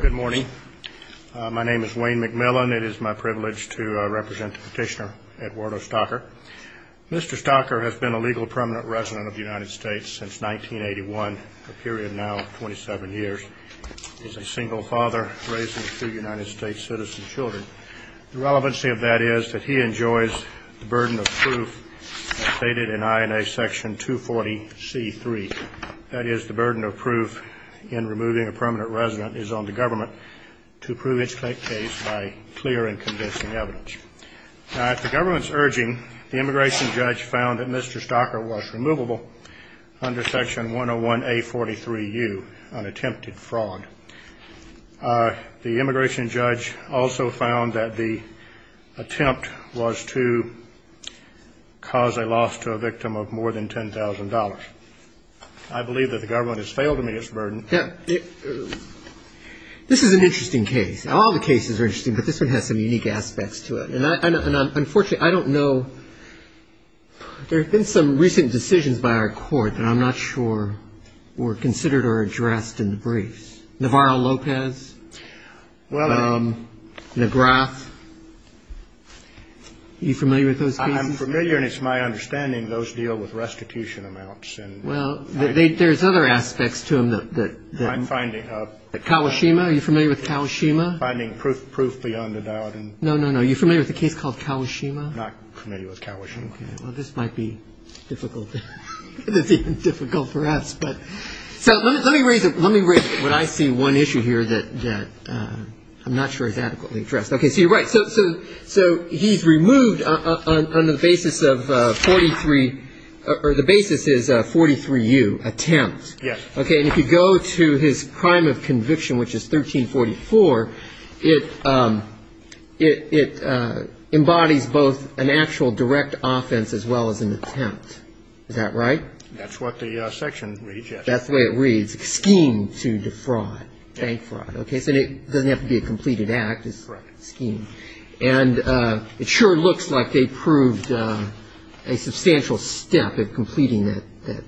Good morning. My name is Wayne McMillan. It is my privilege to represent the petitioner Eduardo Stocker. Mr. Stocker has been a legal permanent resident of the United States since 1981, a period now of 27 years. He is a single father raising two United States citizen children. The relevancy of that is that he enjoys the burden of proof as stated in INA Section 240C3. That is, the burden of proof in removing a permanent resident is on the government to prove its case by clear and convincing evidence. At the government's urging, the immigration judge found that Mr. Stocker was removable under Section 101A43U, an attempted fraud. The immigration judge also found that the attempt was to cause a loss to a victim of more than $10,000. I believe that the government has failed to meet its burden. This is an interesting case. All the cases are interesting, but this one has some unique aspects to it. Unfortunately, I don't know. There have been some recent decisions by our court that I'm not sure were considered or addressed in the briefs. Navarro-Lopez, McGrath. Are you familiar with those cases? I'm familiar, and it's my understanding those deal with restitution amounts. Well, there's other aspects to them. I'm finding. Kawashima. Are you familiar with Kawashima? I'm finding proof beyond a doubt. No, no, no. Are you familiar with a case called Kawashima? I'm not familiar with Kawashima. Well, this might be difficult. It's even difficult for us. So let me raise it. Let me raise it. I see one issue here that I'm not sure is adequately addressed. Okay, so you're right. So he's removed on the basis of 43 or the basis is 43U, attempt. Yes. Okay, and if you go to his crime of conviction, which is 1344, it embodies both an actual direct offense as well as an attempt. Is that right? That's what the section reads, yes. That's the way it reads, scheme to defraud, bank fraud. Okay, so it doesn't have to be a completed act. Correct. And it sure looks like they proved a substantial step in completing that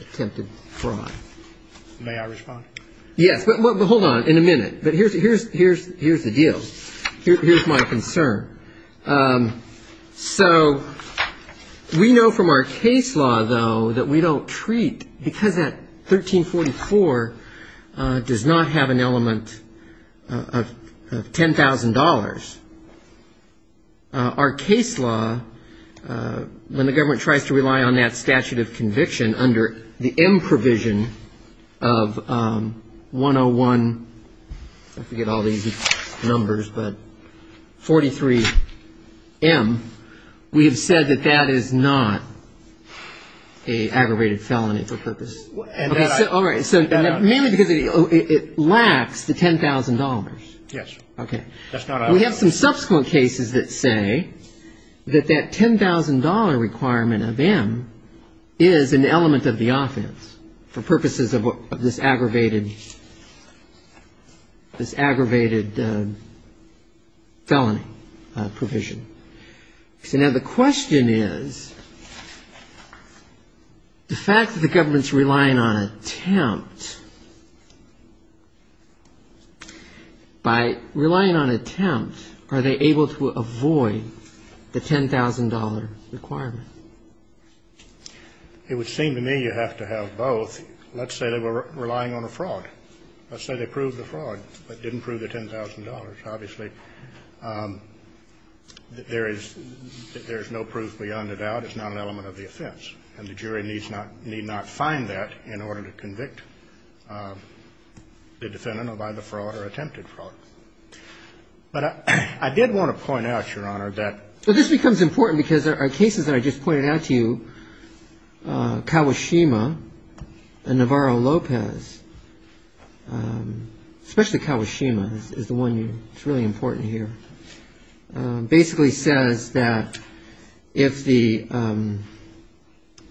attempted fraud. May I respond? Yes, but hold on in a minute. But here's the deal. Here's my concern. So we know from our case law, though, that we don't treat, because that 1344 does not have an element of $10,000. Our case law, when the government tries to rely on that statute of conviction under the M provision of 101, I forget all these numbers, but 43M, we have said that that is not an aggravated felony for purpose. All right, so mainly because it lacks the $10,000. Yes. Okay. We have some subsequent cases that say that that $10,000 requirement of M is an element of the offense for purposes of this aggravated felony provision. So now the question is, the fact that the government's relying on attempt, by relying on attempt, are they able to avoid the $10,000 requirement? It would seem to me you have to have both. Let's say they were relying on a fraud. Let's say they proved the fraud, but didn't prove the $10,000. Obviously, there is no proof beyond a doubt it's not an element of the offense. And the jury need not find that in order to convict the defendant of either fraud or attempted fraud. But I did want to point out, Your Honor, that this becomes important because there are cases that I just pointed out to you, Kawashima and Navarro-Lopez, especially Kawashima is the one that's really important here, basically says that if the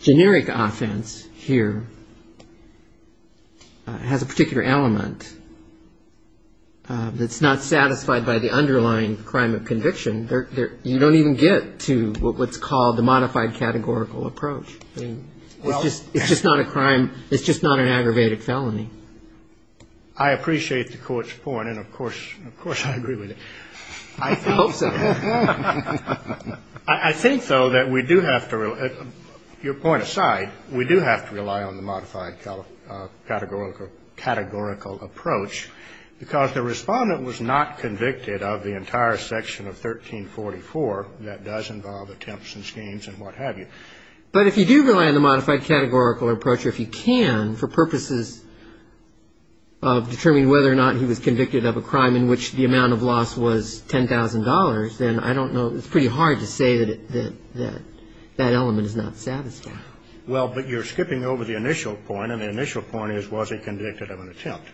generic offense here has a particular element that's not satisfied by the underlying crime of conviction, you don't even get to what's called the modified categorical approach. It's just not a crime. It's just not an aggravated felony. I appreciate the Court's point. And, of course, I agree with it. I hope so. I think, though, that we do have to rely – your point aside, we do have to rely on the modified categorical approach because the Respondent was not convicted of the entire section of 1344 that does involve attempts and schemes and what have you. But if you do rely on the modified categorical approach, or if you can for purposes of determining whether or not he was convicted of a crime in which the amount of loss was $10,000, then I don't know – it's pretty hard to say that that element is not satisfied. Well, but you're skipping over the initial point, and the initial point is was he convicted of an attempt.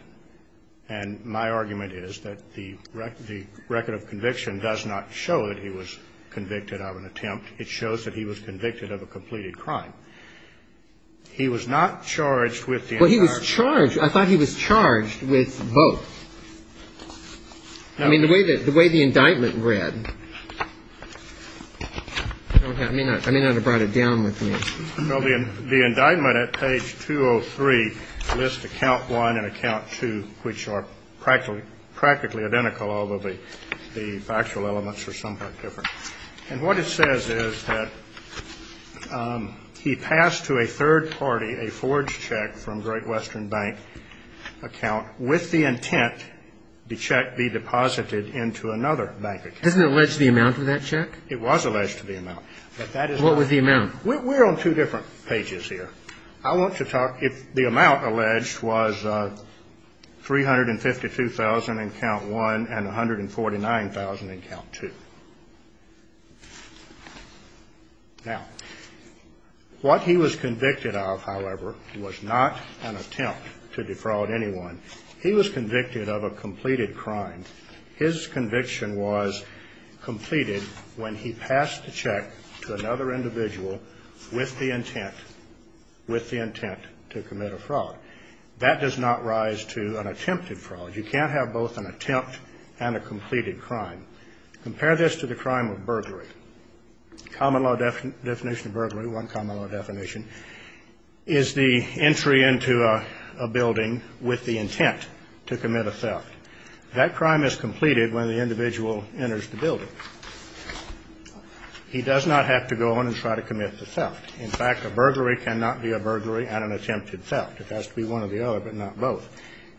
And my argument is that the record of conviction does not show that he was convicted of an attempt. It shows that he was convicted of a completed crime. He was not charged with the entire – Well, he was charged – I thought he was charged with both. I mean, the way that – the way the indictment read – I may not have brought it down with me. Well, the indictment at page 203 lists account one and account two, which are practically identical, although the factual elements are somewhat different. And what it says is that he passed to a third party a forged check from Great Western Bank account with the intent the check be deposited into another bank account. Doesn't it allege the amount of that check? It was alleged to the amount. But that is not – What was the amount? We're on two different pages here. I want to talk – the amount alleged was $352,000 in account one and $149,000 in account two. Now, what he was convicted of, however, was not an attempt to defraud anyone. He was convicted of a completed crime. His conviction was completed when he passed the check to another individual with the intent – with the intent to commit a fraud. That does not rise to an attempted fraud. You can't have both an attempt and a completed crime. Compare this to the crime of burglary. Common law definition of burglary, one common law definition, is the entry into a building with the intent to commit a theft. That crime is completed when the individual enters the building. He does not have to go in and try to commit the theft. In fact, a burglary cannot be a burglary and an attempted theft. It has to be one or the other, but not both.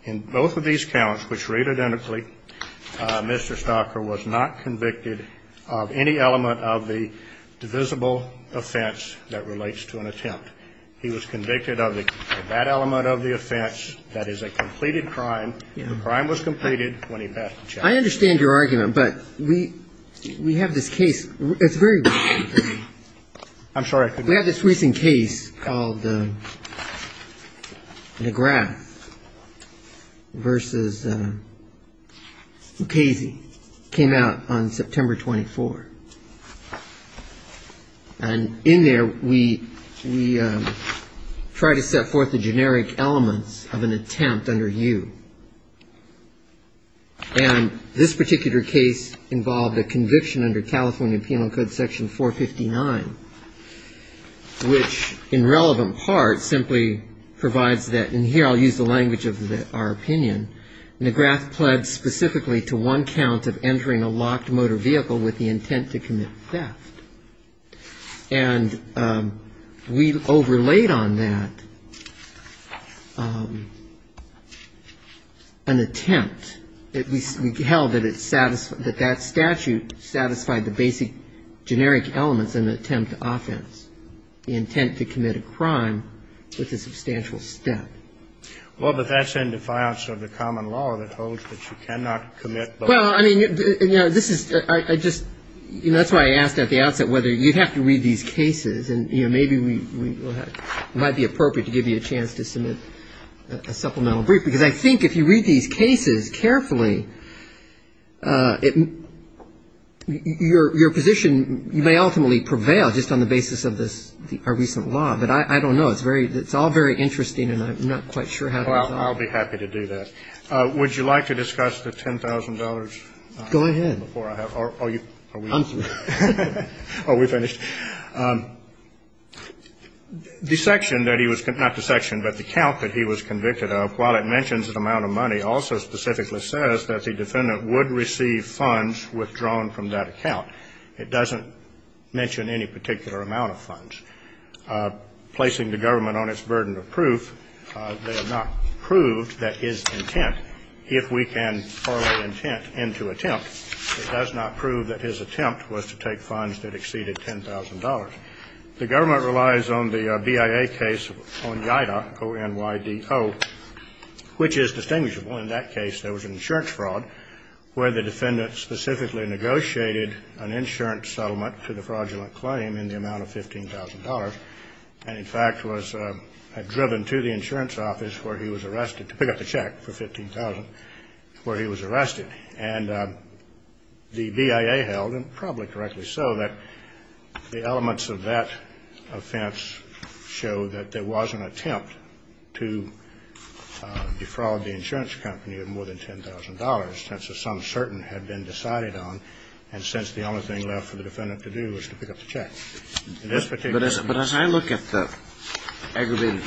In both of these counts, which read identically, Mr. Stocker was not convicted of any element of the divisible offense that relates to an attempt. He was convicted of that element of the offense. That is a completed crime. The crime was completed when he passed the check. I understand your argument, but we have this case. It's very recent for me. I'm sorry. We have this recent case called McGrath v. Mukasey. It came out on September 24. And in there, we try to set forth the generic elements of an attempt under you. And this particular case involved a conviction under California Penal Code Section 459, which in relevant part simply provides that, and here I'll use the language of our opinion, McGrath pledged specifically to one count of entering a locked motor vehicle with the intent to commit theft. And we overlaid on that an attempt. We held that that statute satisfied the basic generic elements in an attempt to offense, the intent to commit a crime with a substantial theft. Well, but that's in defiance of the common law that holds that you cannot commit both. Well, I mean, you know, this is, I just, you know, that's why I asked at the outset whether you'd have to read these cases. And, you know, maybe we might be appropriate to give you a chance to submit a supplemental brief. Because I think if you read these cases carefully, your position may ultimately prevail just on the basis of this, our recent law. But I don't know. It's very, it's all very interesting, and I'm not quite sure how to resolve it. Well, I'll be happy to do that. Would you like to discuss the $10,000? Go ahead. Before I have, are you, are we, are we finished? The section that he was, not the section, but the count that he was convicted of, while it mentions an amount of money, also specifically says that the defendant would receive funds withdrawn from that account. It doesn't mention any particular amount of funds. Placing the government on its burden of proof, they have not proved that his intent, if we can correlate intent into attempt, it does not prove that his attempt was to take funds that exceeded $10,000. The government relies on the BIA case on IDA, O-N-Y-D-O, which is distinguishable. In that case, there was an insurance fraud where the defendant specifically negotiated an insurance settlement to the fraudulent claim in the amount of $15,000 and, in fact, was driven to the insurance office where he was arrested to pick up the check for $15,000 where he was arrested. And the BIA held, and probably correctly so, that the elements of that offense show that there was an attempt to defraud the insurance company of more than $10,000 since a sum certain had been decided on and since the only thing left for the defendant to do was to pick up the check. In this particular case ---- But as I look at the aggravated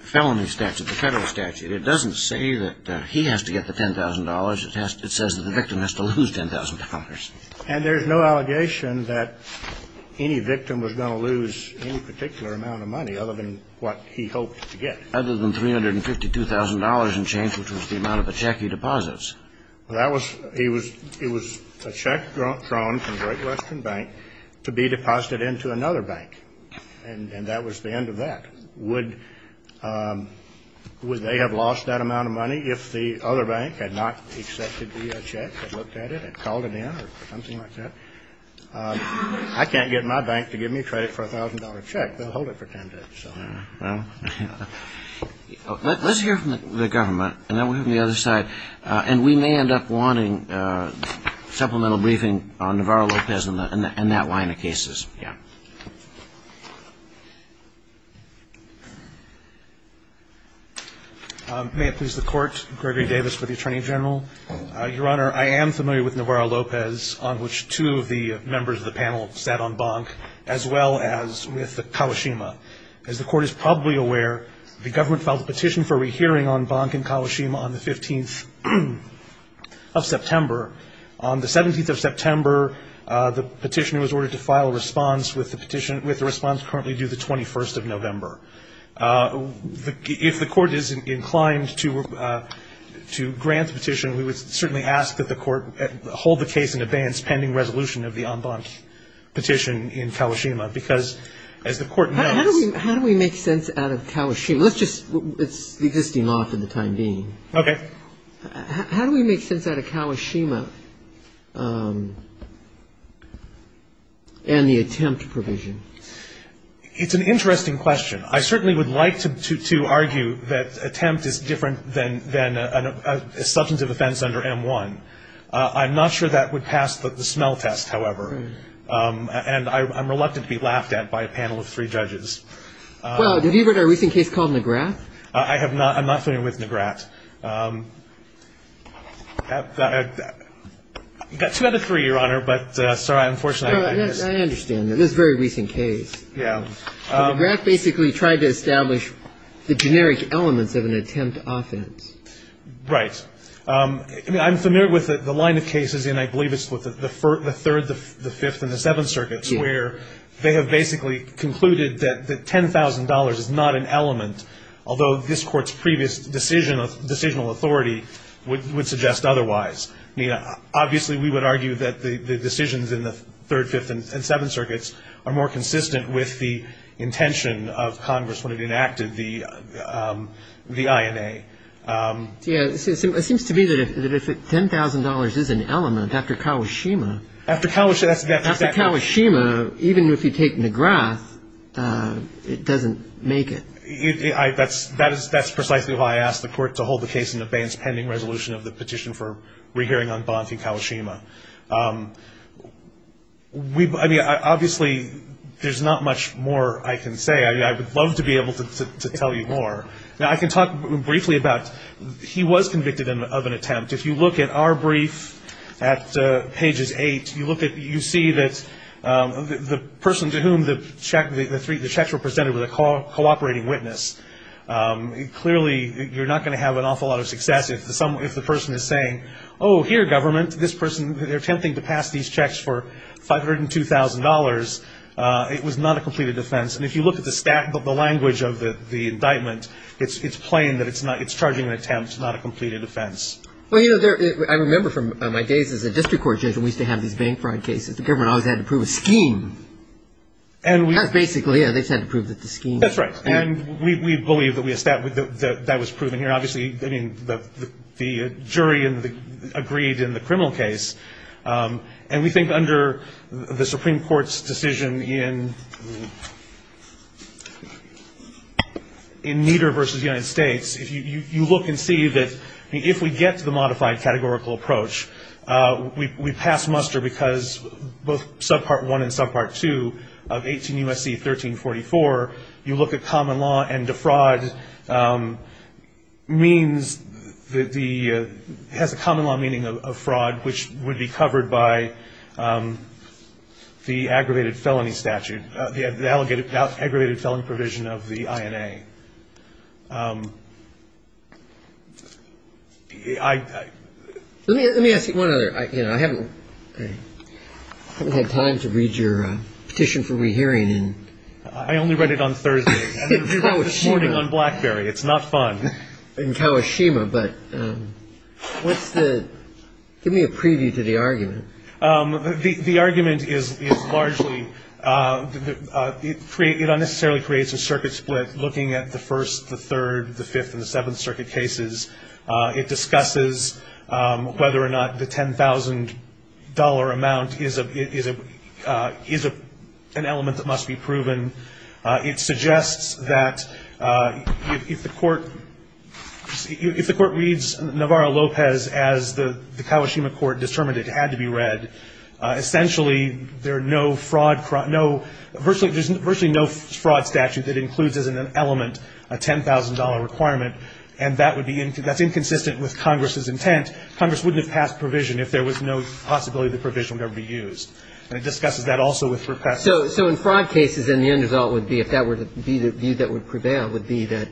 felony statute, the Federal statute, it doesn't say that he has to get the $10,000. It says that the victim has to lose $10,000. And there's no allegation that any victim was going to lose any particular amount of money other than what he hoped to get. Other than $352,000 in change, which was the amount of the check he deposits. Well, that was ---- he was ---- it was a check drawn from Great Western Bank to be deposited into another bank. And that was the end of that. Would they have lost that amount of money if the other bank had not accepted the check, had looked at it, had called it in or something like that? I can't get my bank to give me credit for a $1,000 check. Let's hear from the government and then we'll hear from the other side. And we may end up wanting supplemental briefing on Navarro-Lopez and that line of cases. Yeah. May it please the Court. Gregory Davis for the Attorney General. Your Honor, I am familiar with Navarro-Lopez, on which two of the members of the panel sat on bonk, as well as with Kawashima. As the Court is probably aware, the government filed a petition for a rehearing on bonk in Kawashima on the 15th of September. On the 17th of September, the petitioner was ordered to file a response, with the response currently due the 21st of November. If the Court is inclined to grant the petition, we would certainly ask that the Court hold the case in abeyance pending resolution of the on bonk petition in Kawashima, because as the Court knows. How do we make sense out of Kawashima? Let's just, it's the existing law for the time being. Okay. How do we make sense out of Kawashima and the attempt provision? It's an interesting question. I certainly would like to argue that attempt is different than a substantive offense under M-1. I'm not sure that would pass the smell test, however. And I'm reluctant to be laughed at by a panel of three judges. Well, have you heard of a recent case called Nagrath? I have not. I'm not familiar with Nagrath. I've got two out of three, Your Honor, but I'm sorry. I understand. This is a very recent case. Yeah. Nagrath basically tried to establish the generic elements of an attempt offense. Right. I mean, I'm familiar with the line of cases, and I believe it's with the Third, the Fifth, and the Seventh Circuits, where they have basically concluded that $10,000 is not an element, although this Court's previous decision of decisional authority would suggest otherwise. I mean, obviously we would argue that the decisions in the Third, Fifth, and Seventh Circuits are more consistent with the intention of Congress when it enacted the INA. Yeah. It seems to me that if $10,000 is an element after Kawashima. After Kawashima, that's exactly right. After Kawashima, even if you take Nagrath, it doesn't make it. That's precisely why I asked the Court to hold the case of the petition for rehearing on Bont and Kawashima. I mean, obviously there's not much more I can say. I would love to be able to tell you more. Now, I can talk briefly about he was convicted of an attempt. If you look at our brief at Pages 8, you see that the person to whom the checks were presented clearly you're not going to have an awful lot of success if the person is saying, oh, here, government, this person, they're attempting to pass these checks for $502,000. It was not a completed offense. And if you look at the language of the indictment, it's plain that it's charging an attempt, not a completed offense. Well, you know, I remember from my days as a district court judge, we used to have these bank fraud cases. The government always had to prove a scheme. That's basically it. They just had to prove the scheme. That's right. And we believe that that was proven here. Obviously, I mean, the jury agreed in the criminal case. And we think under the Supreme Court's decision in Nieder v. United States, if you look and see that if we get to the modified categorical approach, we pass muster because both Subpart 1 and Subpart 2 of 18 U.S.C. 1344, you look at common law and defraud means that the has a common law meaning of fraud, which would be covered by the aggravated felony statute, the aggravated felony provision of the INA. Let me ask you one other. I haven't had time to read your petition for rehearing. I only read it on Thursday. I read it this morning on Blackberry. It's not fun. In Kawashima. But what's the ñ give me a preview to the argument. The argument is largely it unnecessarily creates a circuit split looking at the first, the third, the fifth, and the seventh circuit cases. It discusses whether or not the $10,000 amount is an element that must be proven. It suggests that if the court reads Navarro-Lopez as the Kawashima court determined it had to be read, essentially there are no fraud ñ virtually no fraud statute that includes as an element a $10,000 requirement, and that would be ñ that's inconsistent with Congress's intent. Congress wouldn't have passed provision if there was no possibility the provision would ever be used. And it discusses that also with request. So in fraud cases, then the end result would be, if that were to be the view that would prevail, would be that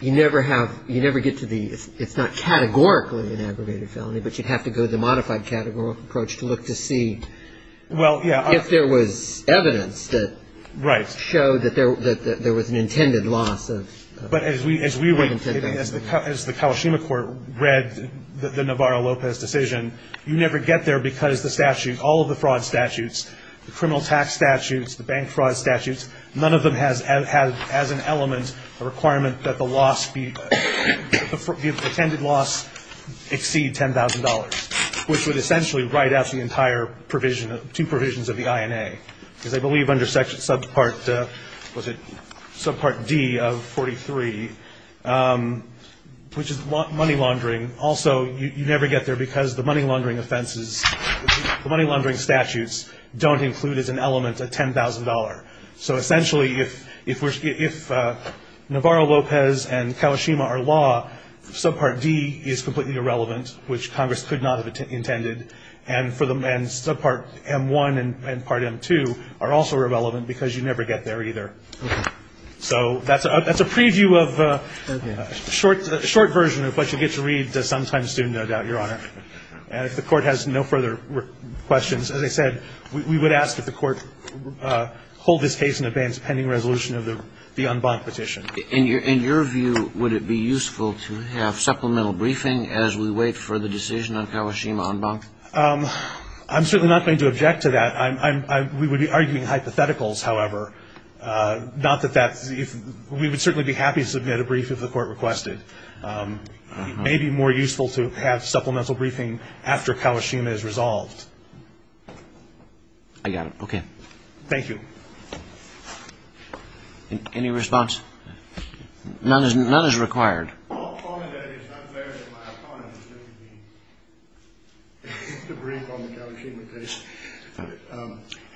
you never have ñ you never get to the ñ it's not categorically an aggravated felony, but you'd have to go to the modified categorical approach to look to see if there was evidence that showed that there was an intended loss of ñ But as we were ñ as the Kawashima court read the Navarro-Lopez decision, you never get there because the statute ñ all of the fraud statutes, the criminal tax statutes, the bank fraud statutes, none of them has as an element a requirement that the loss be ñ the intended loss exceed $10,000, which would essentially write out the entire provision ñ two provisions of the INA. Because I believe under subpart ñ was it subpart D of 43, which is money laundering, also you never get there because the money laundering offenses ñ the money laundering statutes don't include as an element a $10,000. So essentially, if Navarro-Lopez and Kawashima are law, subpart D is completely irrelevant, which Congress could not have intended. And for the ñ and subpart M1 and part M2 are also irrelevant because you never get there either. So that's a ñ that's a preview of a short ñ short version of what you get to read sometime soon, no doubt, Your Honor. And if the Court has no further questions, as I said, we would ask that the Court hold this case in abeyance of pending resolution of the ñ the en banc petition. In your ñ in your view, would it be useful to have supplemental briefing as we wait for the decision on Kawashima en banc? I'm certainly not going to object to that. I'm ñ I'm ñ we would be arguing hypotheticals, however, not that that's ñ we would certainly be happy to submit a brief if the Court requested. It may be more useful to have supplemental briefing after Kawashima is resolved. I got it. Okay. Thank you. Any response? None is ñ none is required. Well, only that it's not fair that my opponent is going to be the brief on the Kawashima case.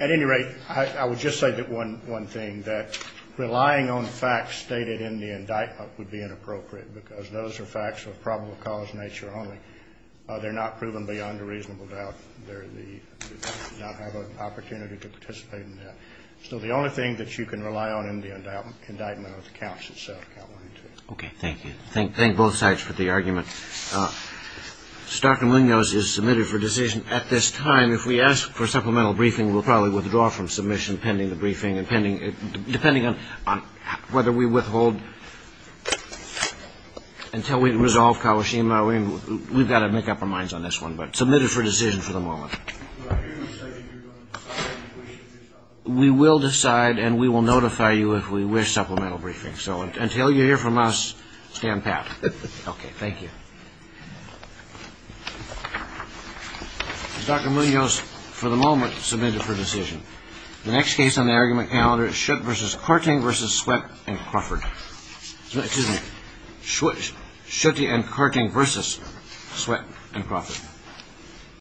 At any rate, I would just say that one ñ one thing, that relying on facts stated in the indictment would be inappropriate because those are facts of probable cause nature only. They're not proven beyond a reasonable doubt. They're the ñ not have an opportunity to participate in that. So the only thing that you can rely on in the indictment are the counts itself. Okay. Thank you. Thank both sides for the argument. Stockton-Wingos is submitted for decision at this time. If we ask for supplemental briefing, we'll probably withdraw from submission pending the briefing, depending on whether we withhold until we resolve Kawashima. We've got to make up our minds on this one, but submitted for decision for the moment. We will decide, and we will notify you if we wish supplemental briefing. So until you hear from us, stand pat. Okay. Thank you. Dr. Munoz, for the moment, submitted for decision. The next case on the argument calendar is Schutt v. Korting v. Sweatt and Crawford. Excuse me. Schutt v. Korting v. Sweatt and Crawford.